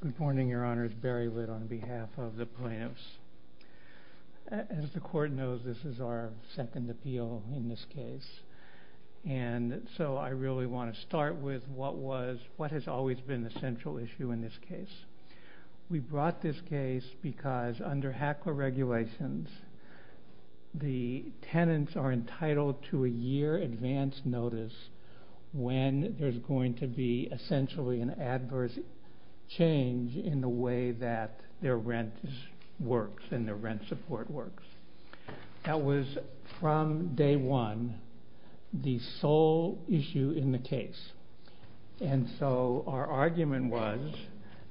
Good morning, your honors. Barry Litt on behalf of the plaintiffs. As the court knows this is our second appeal in this case and so I really want to start with what has always been the central issue in this case. We brought this case because under HACLA regulations, the tenants are entitled to a year advance notice when there's going to be essential and adverse change in the way that their rent works and their rent support works. That was from day one the sole issue in the case. And so our argument was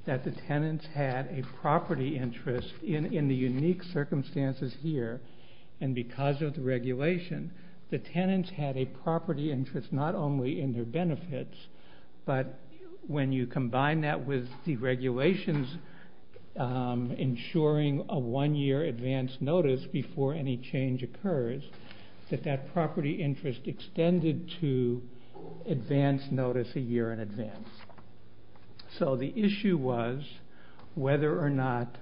that the tenants had a property interest in the unique circumstances here and because of the regulation the tenants had a property interest not only in their benefits but when you combine that with the regulations ensuring a one-year advance notice before any change occurs, that that property interest extended to advance notice a year in advance. So the issue was whether or not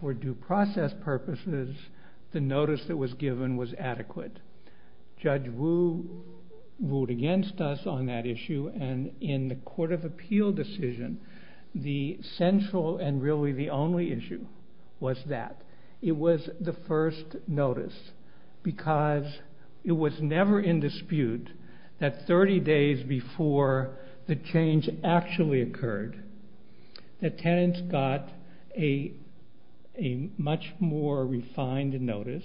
for due process purposes the notice that was given was adequate. Judge Wu ruled against us on that issue and in the court's opinion that was not the case. In the court of appeal decision, the central and really the only issue was that. It was the first notice because it was never in dispute that 30 days before the change actually occurred, the tenants got a much more refined notice.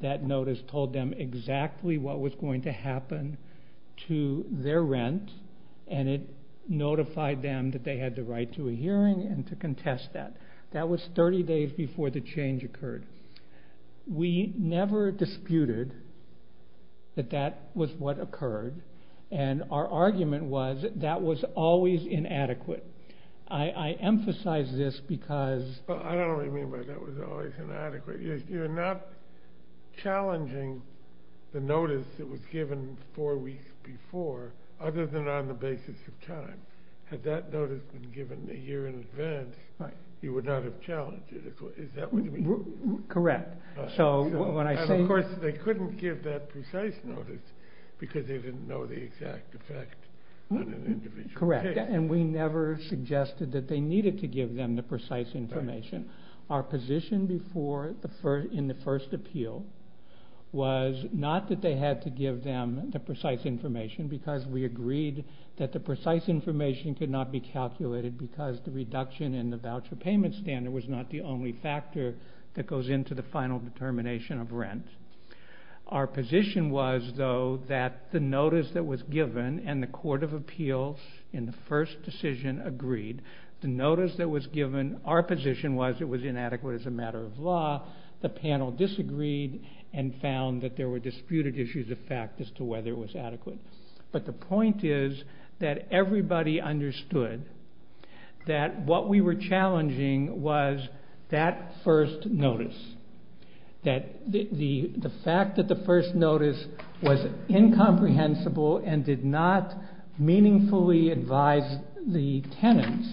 That notice told them exactly what was going to happen to their rent and it notified them that they had the right to a hearing and to contest that. That was 30 days before the change occurred. We never disputed that that was what occurred and our argument was that that was always inadequate. I emphasize this because... Had that notice been given a year in advance, you would not have challenged it. Is that what you mean? Correct. So when I say... And of course they couldn't give that precise notice because they didn't know the exact effect on an individual case. Correct. And we never suggested that they needed to give them the precise information. Our position before in the first appeal was not that they had to give them the precise information because we agreed that the precise information could not be calculated because the reduction in the voucher payment standard was not the only factor that goes into the final determination of rent. Our position was though that the notice that was given and the court of appeals in the first decision agreed. The notice that was given, our position was it was inadequate as a matter of law. The panel disagreed and found that there were disputed issues of fact as to whether it was adequate. But the point is that everybody understood that what we were challenging was that first notice. That the fact that the first notice was incomprehensible and did not meaningfully advise the tenants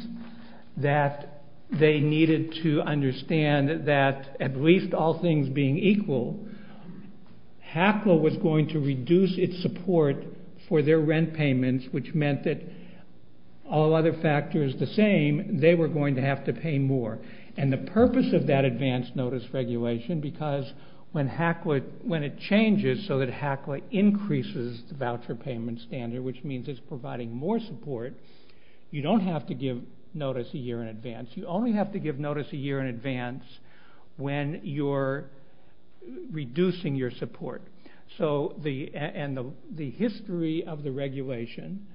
that they needed to understand that at least all things being equal, HACLA was going to reduce its support for their rent payments which meant that all other factors the same, they were going to have to pay more. And the purpose of that advance notice regulation because when HACLA, when it changes so that HACLA increases the voucher payment standard which means it's providing more support, you don't have to give notice a year in advance. You only have to give notice a year in advance when you're reducing your support. And the history of the regulation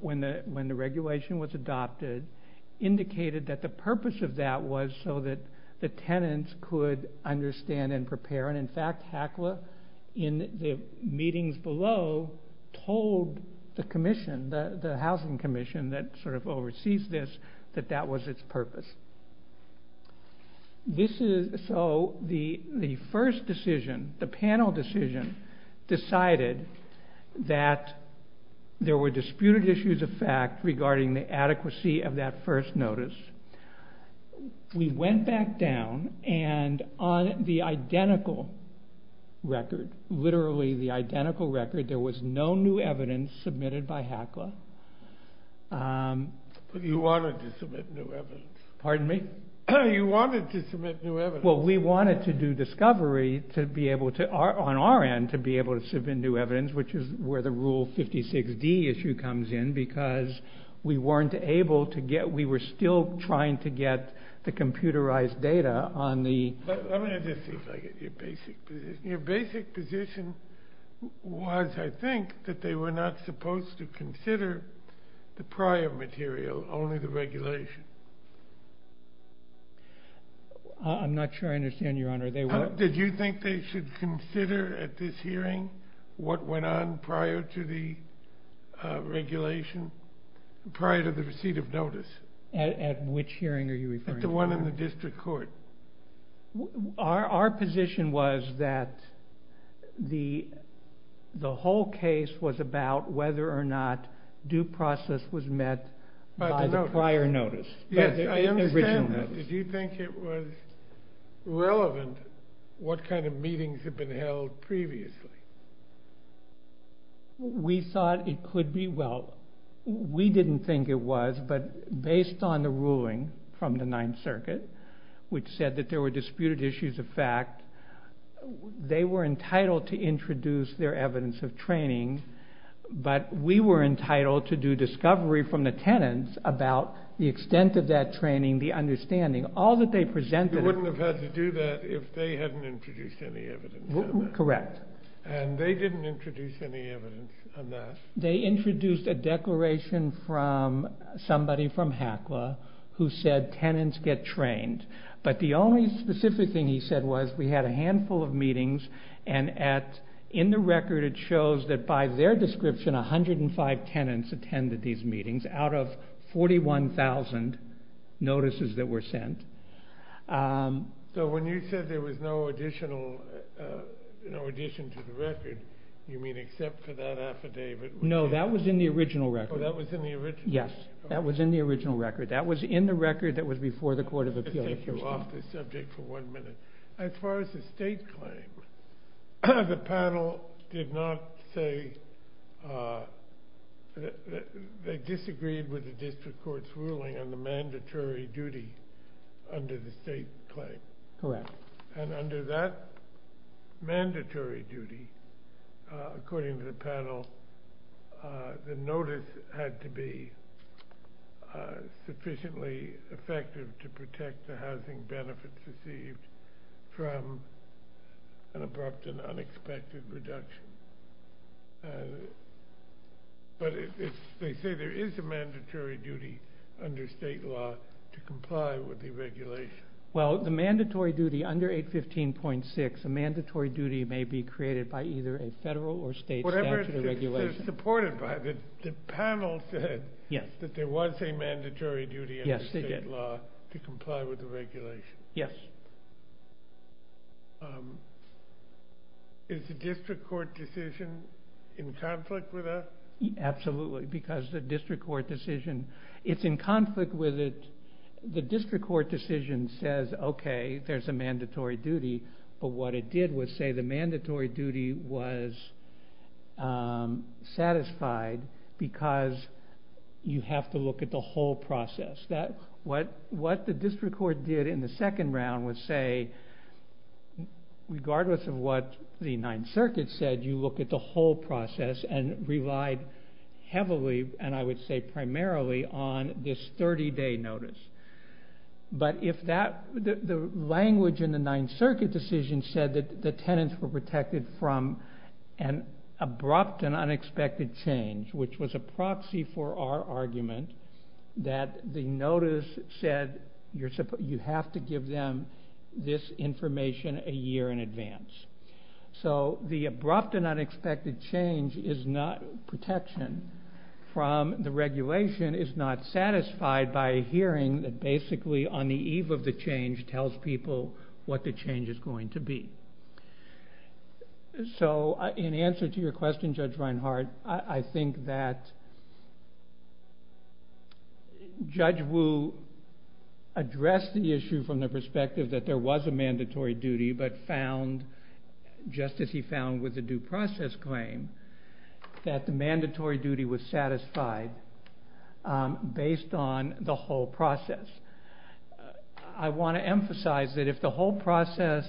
when the regulation was adopted indicated that the purpose of that was so that the tenants could understand and prepare and in fact HACLA in the meetings below told the commission, the housing commission that sort of oversees this that that was its purpose. This is, so the first decision, the panel decision decided that there were disputed issues of fact regarding the adequacy of that first notice. We went back down and on the identical record, literally the identical record, there was no new evidence submitted by HACLA. But you wanted to submit new evidence. Pardon me? You wanted to submit new evidence. Well, we wanted to do discovery to be able to, on our end, to be able to submit new evidence which is where the rule 56D issue comes in because we weren't able to get, we were still trying to get the computerized data on the... Your basic position was, I think, that they were not supposed to consider the prior material, only the regulation. I'm not sure I understand, your honor. Did you think they should consider at this hearing what went on prior to the regulation, prior to the receipt of notice? At which hearing are you referring to? At the one in the district court. Our position was that the whole case was about whether or not due process was met by the prior notice. Yes, I understand that. The original notice. Did you think it was relevant what kind of meetings had been held previously? We thought it could be, well, we didn't think it was, but based on the ruling from the Ninth Circuit, which said that there were disputed issues of fact, they were entitled to introduce their evidence of training, but we were entitled to do discovery from the tenants about the extent of that training, the understanding. All that they presented... You wouldn't have had to do that if they hadn't introduced any evidence. Correct. And they didn't introduce any evidence on that. They introduced a declaration from somebody from HACLA who said tenants get trained, but the only specific thing he said was we had a handful of meetings, and in the record it shows that by their description, 105 tenants attended these meetings out of 41,000 notices that were sent. So when you said there was no addition to the record, you mean except for that affidavit? No, that was in the original record. Oh, that was in the original record. Yes, that was in the original record. That was in the record that was before the Court of Appeals. Let me just take you off the subject for one minute. As far as the state claim, the panel did not say they disagreed with the district court's ruling on the mandatory duty under the state claim. Correct. And under that mandatory duty, according to the panel, the notice had to be sufficiently effective to protect the housing benefits received from an abrupt and unexpected reduction. But they say there is a mandatory duty under state law to comply with the regulation. Well, the mandatory duty under 815.6, a mandatory duty may be created by either a federal or state statute or regulation. Whatever it is supported by. The panel said that there was a mandatory duty under state law to comply with the regulation. Yes. Is the district court decision in conflict with that? Absolutely, because the district court decision is in conflict with it. The district court decision says, okay, there is a mandatory duty. But what it did was say the mandatory duty was satisfied because you have to look at the whole process. What the district court did in the second round was say, regardless of what the Ninth Circuit said, you look at the whole process and relied heavily, and I would say primarily, on this 30-day notice. But if the language in the Ninth Circuit decision said that the tenants were protected from an abrupt and unexpected change, which was a proxy for our argument, that the notice said you have to give them this information a year in advance. So the abrupt and unexpected change is not protection from the regulation is not satisfied by a hearing that basically on the eve of the change tells people what the change is going to be. So in answer to your question, Judge Reinhart, I think that Judge Wu addressed the issue from the perspective that there was a mandatory duty but found, just as he found with the due process claim, that the mandatory duty was satisfied based on the whole process. I want to emphasize that if the whole process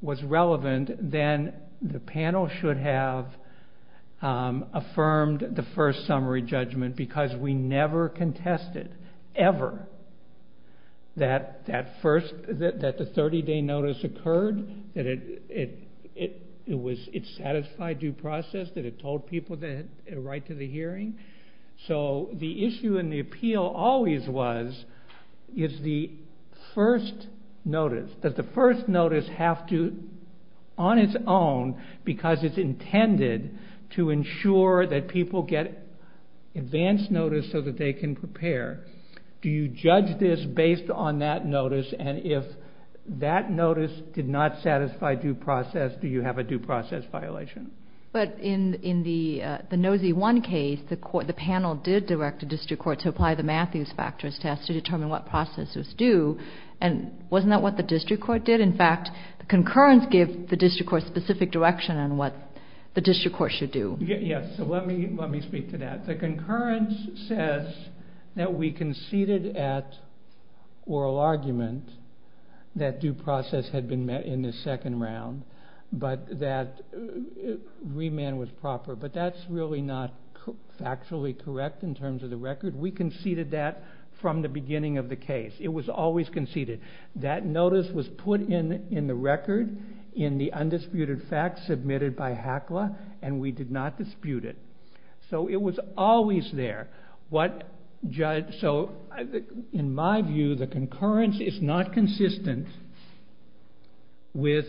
was relevant, then the panel should have affirmed the first summary judgment because we never contested, ever, that the 30-day notice occurred, that it satisfied due process, that it told people the right to the hearing. So the issue in the appeal always was, is the first notice. Does the first notice have to, on its own, because it's intended to ensure that people get advance notice so that they can prepare, do you judge this based on that notice, and if that notice did not satisfy due process, do you have a due process violation? But in the Nosy 1 case, the panel did direct the district court to apply the Matthews factors test to determine what process was due, and wasn't that what the district court did? In fact, the concurrence gave the district court specific direction on what the district court should do. Yes, so let me speak to that. The concurrence says that we conceded at oral argument that due process had been met in the second round, but that remand was proper, but that's really not factually correct in terms of the record. We conceded that from the beginning of the case. It was always conceded. That notice was put in the record in the undisputed facts submitted by HACLA, and we did not dispute it. So it was always there. So in my view, the concurrence is not consistent with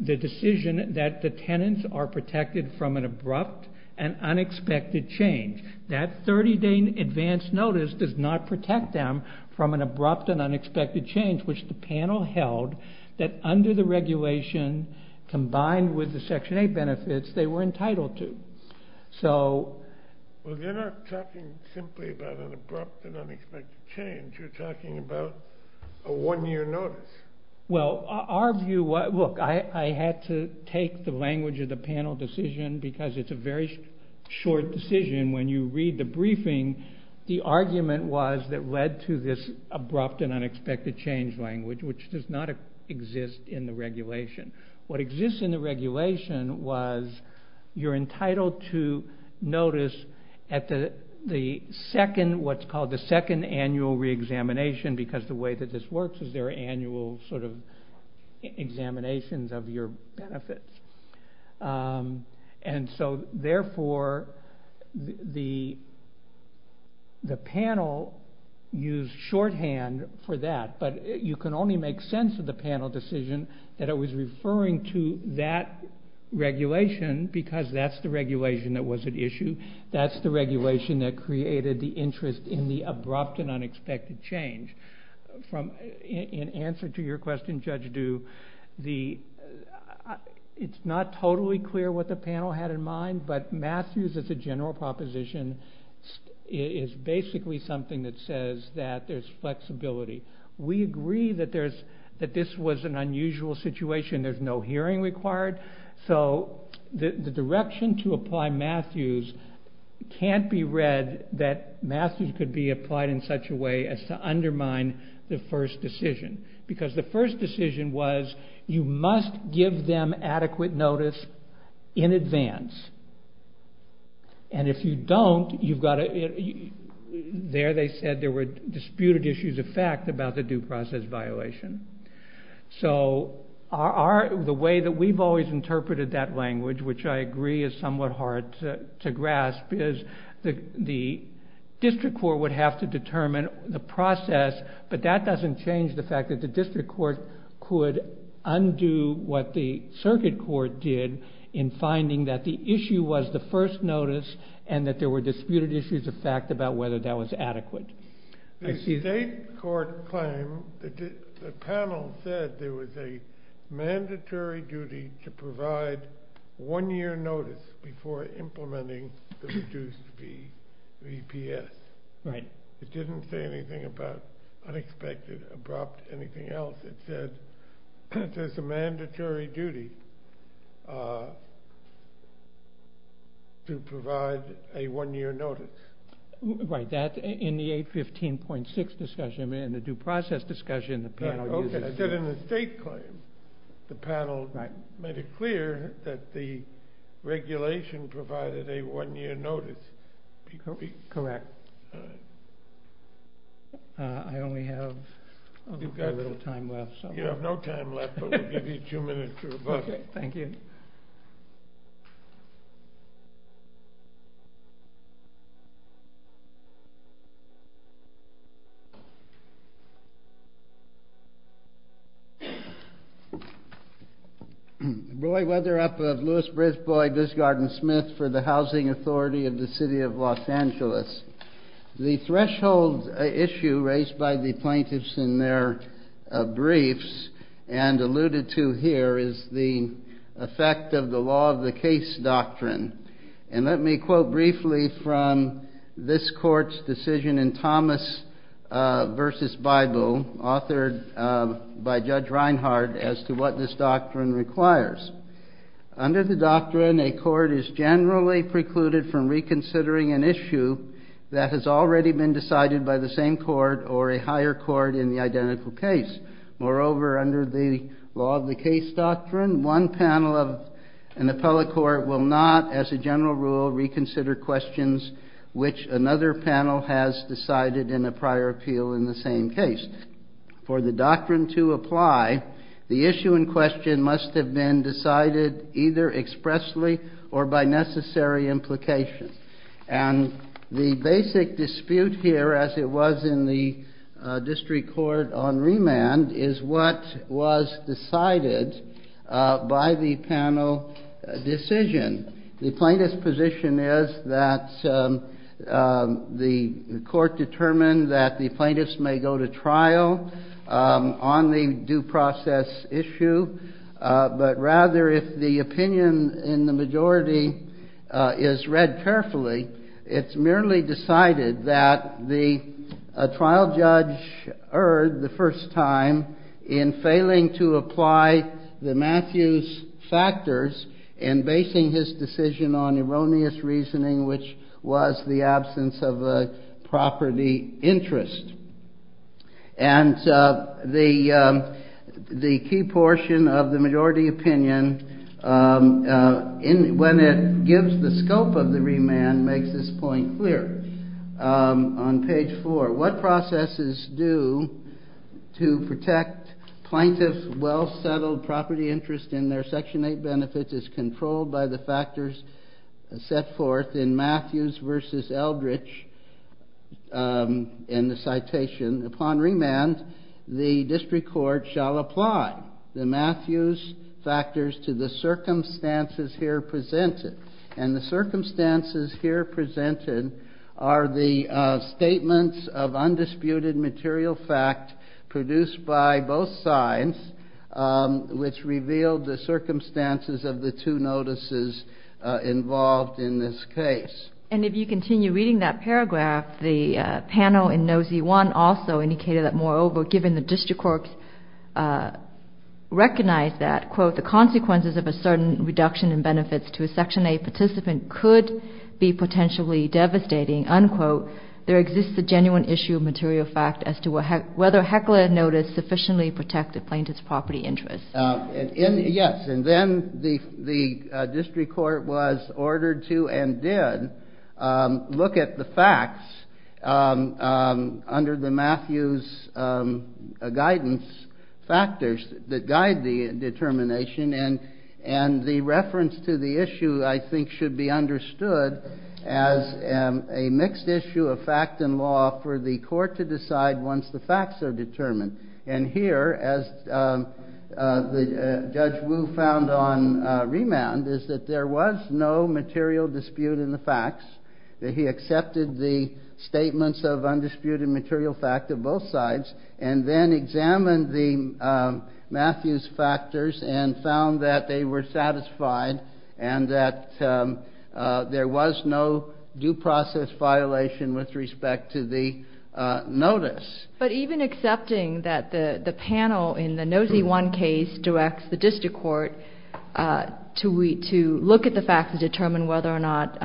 the decision that the tenants are protected from an abrupt and unexpected change. That 30-day advance notice does not protect them from an abrupt and unexpected change, which the panel held that under the regulation combined with the Section 8 benefits, they were entitled to. Well, you're not talking simply about an abrupt and unexpected change. You're talking about a one-year notice. Well, our view, look, I had to take the language of the panel decision because it's a very short decision. When you read the briefing, the argument was that led to this abrupt and unexpected change language, which does not exist in the regulation. What exists in the regulation was you're entitled to notice at the second, what's called the second annual re-examination because the way that this works is there are annual sort of examinations of your benefits. And so therefore, the panel used shorthand for that, but you can only make sense of the panel decision that it was referring to that regulation because that's the regulation that was at issue. That's the regulation that created the interest in the abrupt and unexpected change. In answer to your question, Judge Dew, it's not totally clear what the panel had in mind, but Matthews as a general proposition is basically something that says that there's flexibility. We agree that this was an unusual situation. There's no hearing required, so the direction to apply Matthews can't be read that Matthews could be applied in such a way as to undermine the first decision because the first decision was you must give them adequate notice in advance. And if you don't, there they said there were disputed issues of fact about the due process violation. So the way that we've always interpreted that language, which I agree is somewhat hard to grasp, is the district court would have to determine the process, but that doesn't change the fact that the district court could undo what the circuit court did in finding that the issue was the first notice and that there were disputed issues of fact about whether that was adequate. The state court claim, the panel said there was a mandatory duty to provide one year notice before implementing the reduced VPS. Right. It didn't say anything about unexpected, abrupt, anything else. It said there's a mandatory duty to provide a one year notice. Right, that in the 815.6 discussion, in the due process discussion, the panel used it. I said in the state claim, the panel made it clear that the regulation provided a one year notice. Correct. I only have a little time left. You have no time left, but we'll give you two minutes to revoke it. Okay, thank you. Roy Weatherup of Louis Bridge Boyd. This is Gordon Smith for the housing authority of the city of Los Angeles. The threshold issue raised by the plaintiffs in their briefs and alluded to here is the effect of the law of the case doctrine. And let me quote briefly from this court's decision in Thomas versus Bible, authored by Judge Reinhardt, as to what this doctrine requires. Under the doctrine, a court is generally precluded from reconsidering an issue that has already been decided by the same court or a higher court in the identical case. Moreover, under the law of the case doctrine, one panel of an appellate court will not, as a general rule, reconsider questions which another panel has decided in a prior appeal in the same case. For the doctrine to apply, the issue in question must have been decided either expressly or by necessary implication. And the basic dispute here, as it was in the district court on remand, is what was decided by the panel decision. The plaintiff's position is that the court determined that the plaintiffs may go to trial on the due process issue. But rather, if the opinion in the majority is read carefully, it's merely decided that the trial judge erred the first time in failing to apply the Matthews factors in basing his decision on erroneous reasoning, which was the absence of a property interest. And the key portion of the majority opinion, when it gives the scope of the remand, makes this point clear. On page four, what processes do to protect plaintiff's well-settled property interest in their section 8 benefits is controlled by the factors set forth in Matthews versus Eldridge in the citation. Upon remand, the district court shall apply the Matthews factors to the circumstances here presented. And the circumstances here presented are the statements of undisputed material fact produced by both sides, which revealed the circumstances of the two notices involved in this case. And if you continue reading that paragraph, the panel in No. Z1 also indicated that, moreover, given the district court recognized that, quote, the consequences of a certain reduction in benefits to a section 8 participant could be potentially devastating, unquote, there exists a genuine issue of material fact as to whether heckler notice sufficiently protected plaintiff's property interest. Yes, and then the district court was ordered to and did look at the facts under the Matthews guidance factors that guide the determination. And the reference to the issue, I think, should be understood as a mixed issue of fact and law for the court to decide once the facts are determined. And here, as Judge Wu found on remand, is that there was no material dispute in the facts, that he accepted the statements of undisputed material fact of both sides, and then examined the Matthews factors and found that they were satisfied and that there was no due process violation with respect to the notice. But even accepting that the panel in the No. Z1 case directs the district court to look at the facts to determine whether or not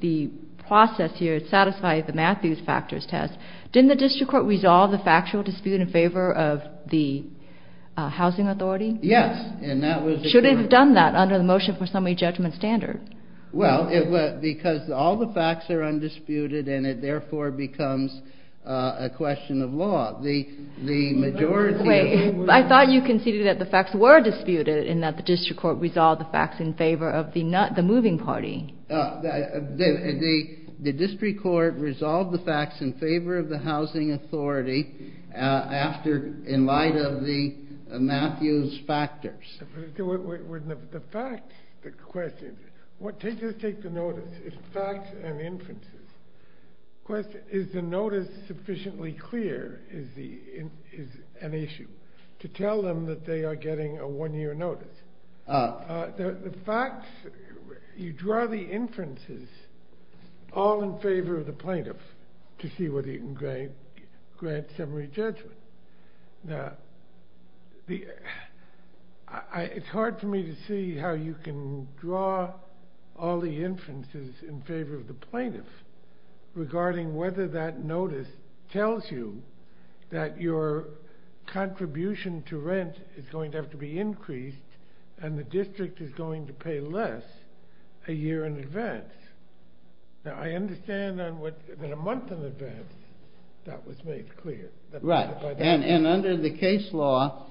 the process here satisfied the Matthews factors test, didn't the district court resolve the factual dispute in favor of the housing authority? Yes, and that was the case. Should it have done that under the motion for summary judgment standard? Well, because all the facts are undisputed and it, therefore, becomes a question of law. The majority... Wait, I thought you conceded that the facts were disputed and that the district court resolved the facts in favor of the moving party. The district court resolved the facts in favor of the housing authority in light of the Matthews factors. The facts, the question... Just take the notice, it's facts and inferences. Is the notice sufficiently clear is an issue to tell them that they are getting a one-year notice? The facts, you draw the inferences all in favor of the plaintiff to see whether he can grant summary judgment. Now, it's hard for me to see how you can draw all the inferences in favor of the plaintiff regarding whether that notice tells you that your contribution to rent is going to have to be increased and the district is going to pay less a year in advance. Now, I understand that a month in advance, that was made clear. Right, and under the case law,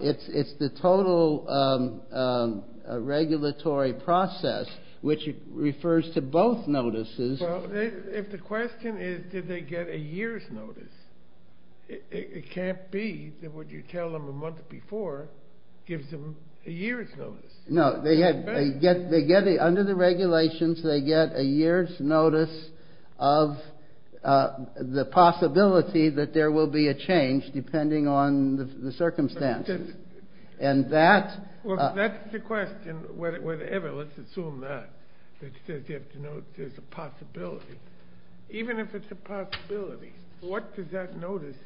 it's the total regulatory process which refers to both notices. Well, if the question is did they get a year's notice, it can't be that what you tell them a month before gives them a year's notice. No, they get, under the regulations, they get a year's notice of the possibility that there will be a change depending on the circumstances. And that... Well, that's the question, whatever, let's assume that. You have to know there's a possibility. Even if it's a possibility, what does that notice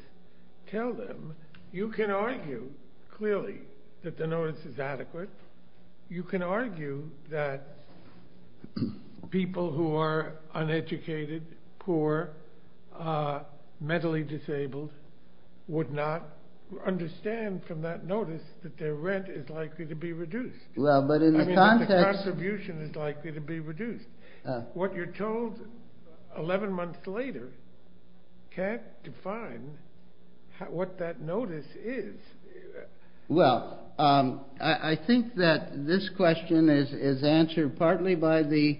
tell them? You can argue clearly that the notice is adequate. You can argue that people who are uneducated, poor, mentally disabled would not understand from that notice that their rent is likely to be reduced. Well, but in the context... I mean, that the contribution is likely to be reduced. What you're told 11 months later can't define what that notice is. Well, I think that this question is answered partly by the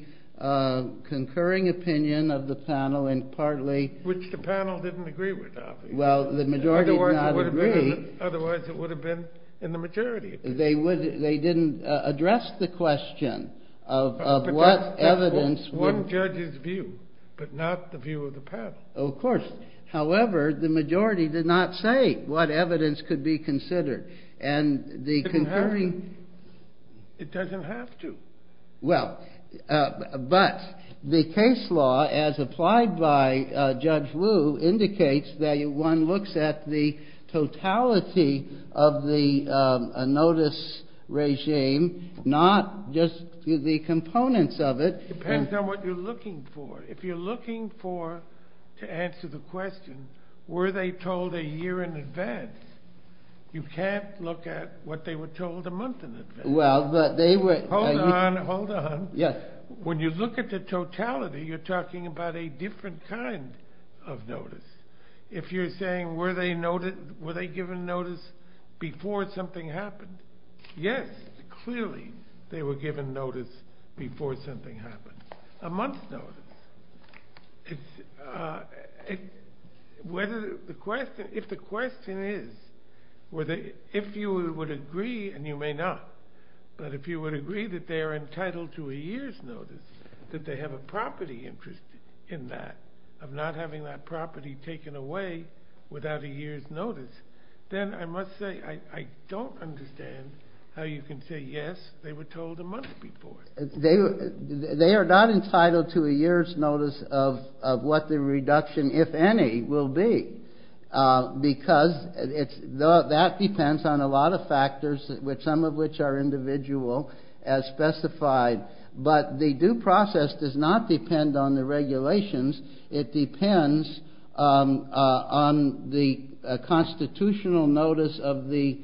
concurring opinion of the panel and partly... Which the panel didn't agree with, obviously. Well, the majority did not agree. Otherwise, it would have been in the majority. They didn't address the question of what evidence... One judge's view, but not the view of the panel. Of course. However, the majority did not say what evidence could be considered. And the concurring... It doesn't have to. Well, but the case law, as applied by Judge Wu, indicates that one looks at the totality of the notice regime, not just the components of it. Depends on what you're looking for. If you're looking for, to answer the question, were they told a year in advance, you can't look at what they were told a month in advance. Hold on, hold on. When you look at the totality, you're talking about a different kind of notice. If you're saying, were they given notice before something happened? Yes, clearly, they were given notice before something happened. A month's notice. If the question is, if you would agree, and you may not, but if you would agree that they are entitled to a year's notice, that they have a property interest in that, of not having that property taken away without a year's notice, then I must say, I don't understand how you can say, yes, they were told a month before. They are not entitled to a year's notice of what the reduction, if any, will be. Because that depends on a lot of factors, some of which are individual, as specified. But the due process does not depend on the regulations. It depends on the constitutional notice of the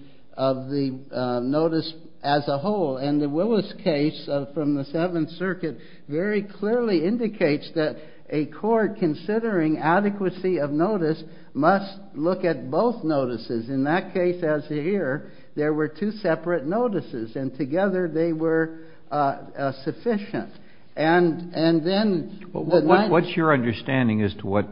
notice as a whole. And the Willis case from the Seventh Circuit very clearly indicates that a court considering adequacy of notice must look at both notices. In that case, as you hear, there were two separate notices. And together they were sufficient. And then the next. What's your understanding as to what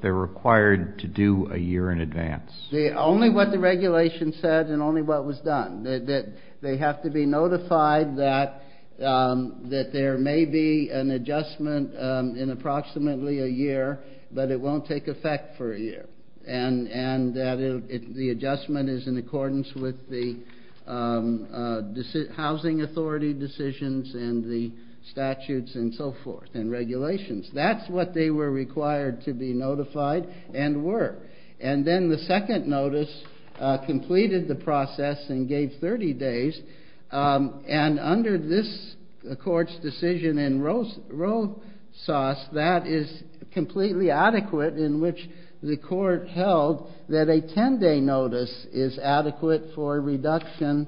they're required to do a year in advance? Only what the regulation said and only what was done. That they have to be notified that there may be an adjustment in approximately a year, but it won't take effect for a year. And that the adjustment is in accordance with the housing authority decisions and the statutes and so forth and regulations. That's what they were required to be notified and were. And then the second notice completed the process and gave 30 days. And under this court's decision in Rosas, that is completely adequate in which the court held that a 10-day notice is adequate for reduction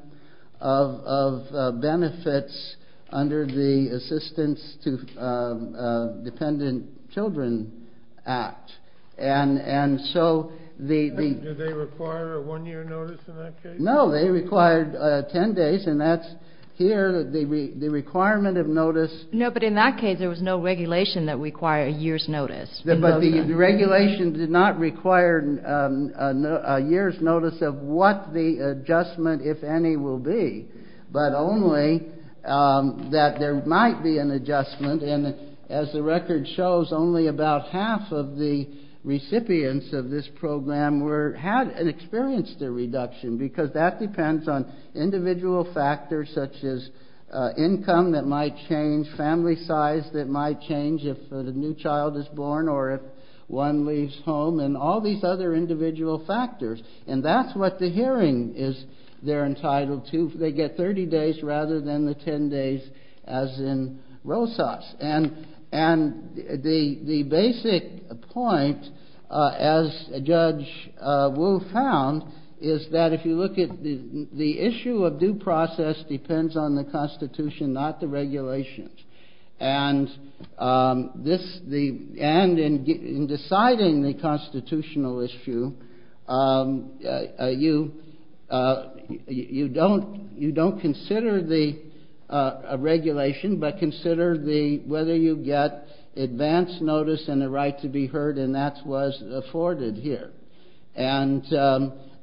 of benefits under the Assistance to Dependent Children Act. And so the. Do they require a one-year notice in that case? No, they required 10 days. And that's here the requirement of notice. No, but in that case, there was no regulation that required a year's notice. But the regulation did not require a year's notice of what the adjustment, if any, will be, but only that there might be an adjustment. And as the record shows, only about half of the recipients of this program had and experienced a reduction. Because that depends on individual factors such as income that might change, family size that might change if a new child is born or if one leaves home, and all these other individual factors. And that's what the hearing is they're entitled to. They get 30 days rather than the 10 days as in Rosas. And the basic point, as Judge Wu found, is that if you look at the issue of due process depends on the Constitution, not the regulations. And in deciding the constitutional issue, you don't consider the regulation but consider whether you get advance notice and a right to be heard, and that was afforded here. And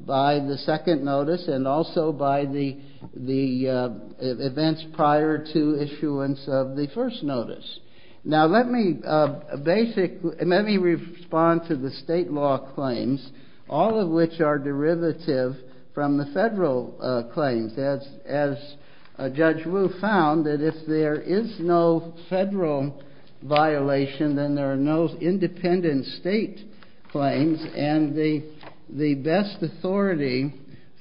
by the second notice and also by the events prior to issuance of the first notice. Now, let me respond to the state law claims, all of which are derivative from the federal claims. As Judge Wu found, that if there is no federal violation, then there are no independent state claims. And the best authority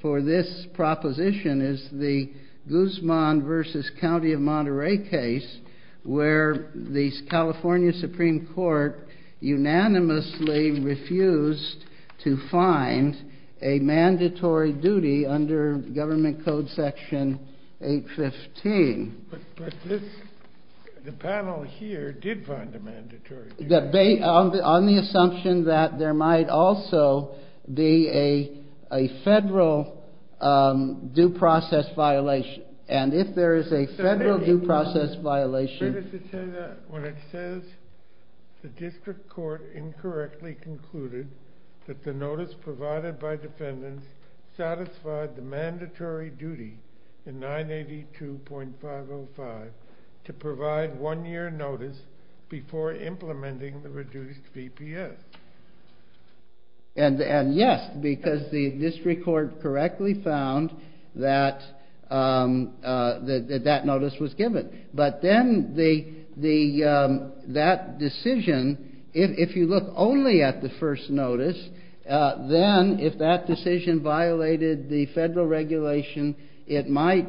for this proposition is the Guzman versus County of Monterey case, where the California Supreme Court unanimously refused to find a mandatory duty under government code section 815. But the panel here did find a mandatory duty. On the assumption that there might also be a federal due process violation. And if there is a federal due process violation. When it says the district court incorrectly concluded that the notice provided by defendants satisfied the mandatory duty in 982.505 to provide one year notice before implementing the reduced BPS. And yes, because the district court correctly found that that notice was given. But then that decision, if you look only at the first notice, then if that decision violated the federal regulation, it might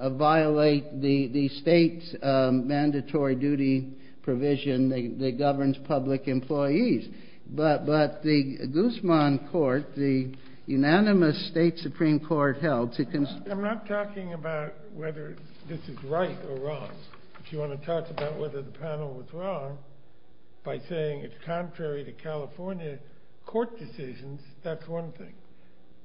violate the state's mandatory duty provision. They governs public employees. But the Guzman court, the unanimous state Supreme Court held. I'm not talking about whether this is right or wrong. If you want to talk about whether the panel was wrong by saying it's contrary to California court decisions, that's one thing.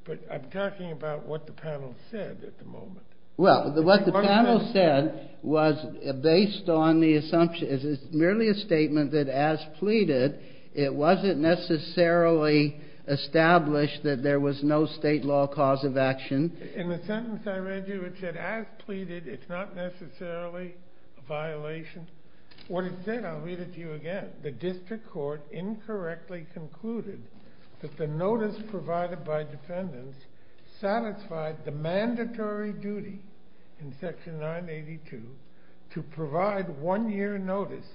But I'm talking about what the panel said at the moment. Well, what the panel said was based on the assumption is merely a statement that, as pleaded, it wasn't necessarily established that there was no state law cause of action. In the sentence I read you, it said, as pleaded, it's not necessarily a violation. What it said, I'll read it to you again. The district court incorrectly concluded that the notice provided by defendants satisfied the mandatory duty in section 982 to provide one year notice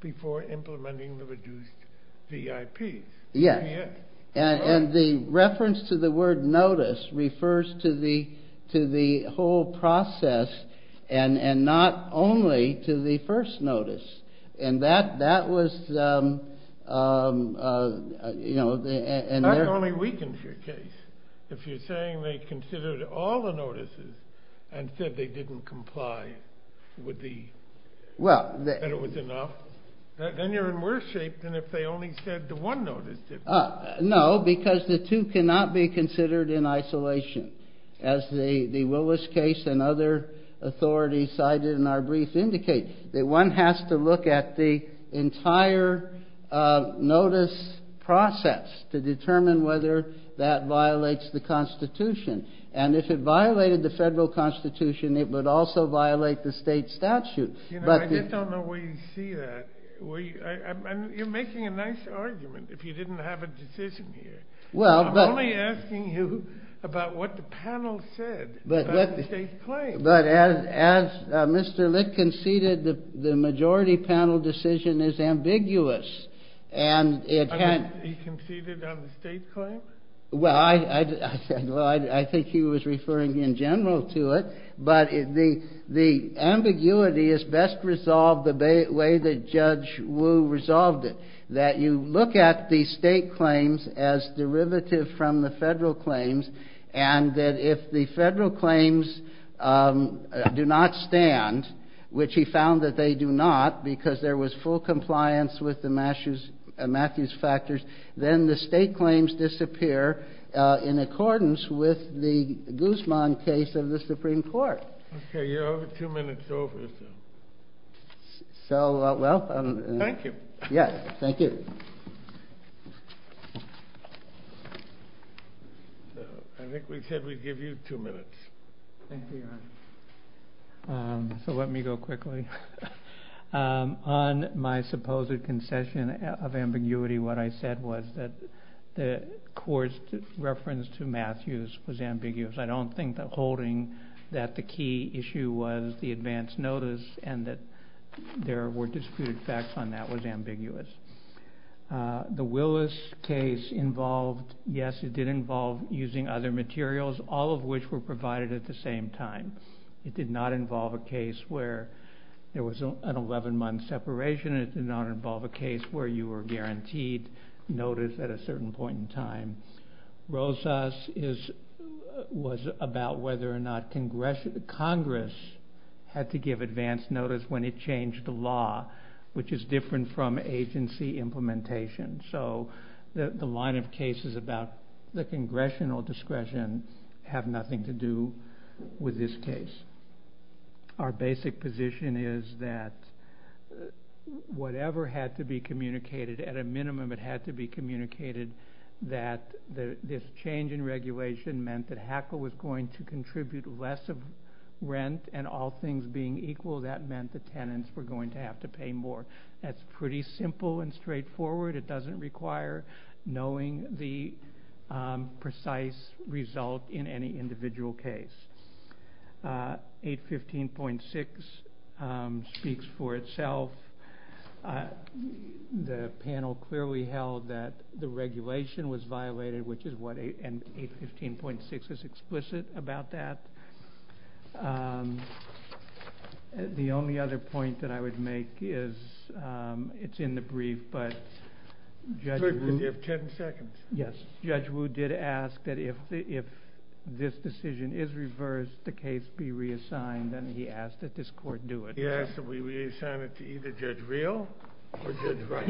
before implementing the reduced BIP. Yes. And the reference to the word notice refers to the whole process and not only to the first notice. And that was, you know, That only weakens your case. If you're saying they considered all the notices and said they didn't comply with the, that it was enough, Then you're in worse shape than if they only said the one notice. No, because the two cannot be considered in isolation. As the Willis case and other authorities cited in our brief indicate that one has to look at the entire notice process to determine whether that violates the Constitution. And if it violated the federal Constitution, it would also violate the state statute. You know, I just don't know where you see that. You're making a nice argument if you didn't have a decision here. I'm only asking you about what the panel said about the state's claim. But as Mr. Lick conceded, the majority panel decision is ambiguous. Well, I think he was referring in general to it, but the ambiguity is best resolved the way that Judge Wu resolved it. That you look at the state claims as derivative from the federal claims and that if the federal claims do not stand, which he found that they do not because there was full compliance with the Matthews factors, then the state claims disappear in accordance with the Guzman case of the Supreme Court. Okay, you're over two minutes over. So, well, thank you. Yes, thank you. I think we said we'd give you two minutes. Thank you, Your Honor. So let me go quickly. On my supposed concession of ambiguity, what I said was that the court's reference to Matthews was ambiguous. I don't think that holding that the key issue was the advance notice and that there were disputed facts on that was ambiguous. The Willis case involved, yes, it did involve using other materials, all of which were provided at the same time. It did not involve a case where there was an 11-month separation. It did not involve a case where you were guaranteed notice at a certain point in time. Rosas was about whether or not Congress had to give advance notice when it changed the law, which is different from agency implementation. So the line of cases about the congressional discretion have nothing to do with this case. Our basic position is that whatever had to be communicated, at a minimum it had to be communicated that this change in regulation meant that HACL was going to contribute less of rent, and all things being equal, that meant the tenants were going to have to pay more. That's pretty simple and straightforward. It doesn't require knowing the precise result in any individual case. 815.6 speaks for itself. The panel clearly held that the regulation was violated, which is what 815.6 is explicit about that. The only other point that I would make is it's in the brief, but Judge Wu did ask that if this decision is reversed, the case be reassigned, and he asked that this court do it. He asked that we reassign it to either Judge Real or Judge Wright.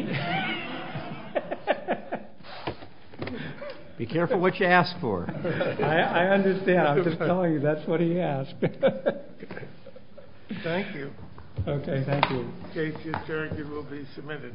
Be careful what you ask for. I understand. I'm just telling you that's what he asked. Thank you. Okay, thank you. The case is adjourned. It will be submitted.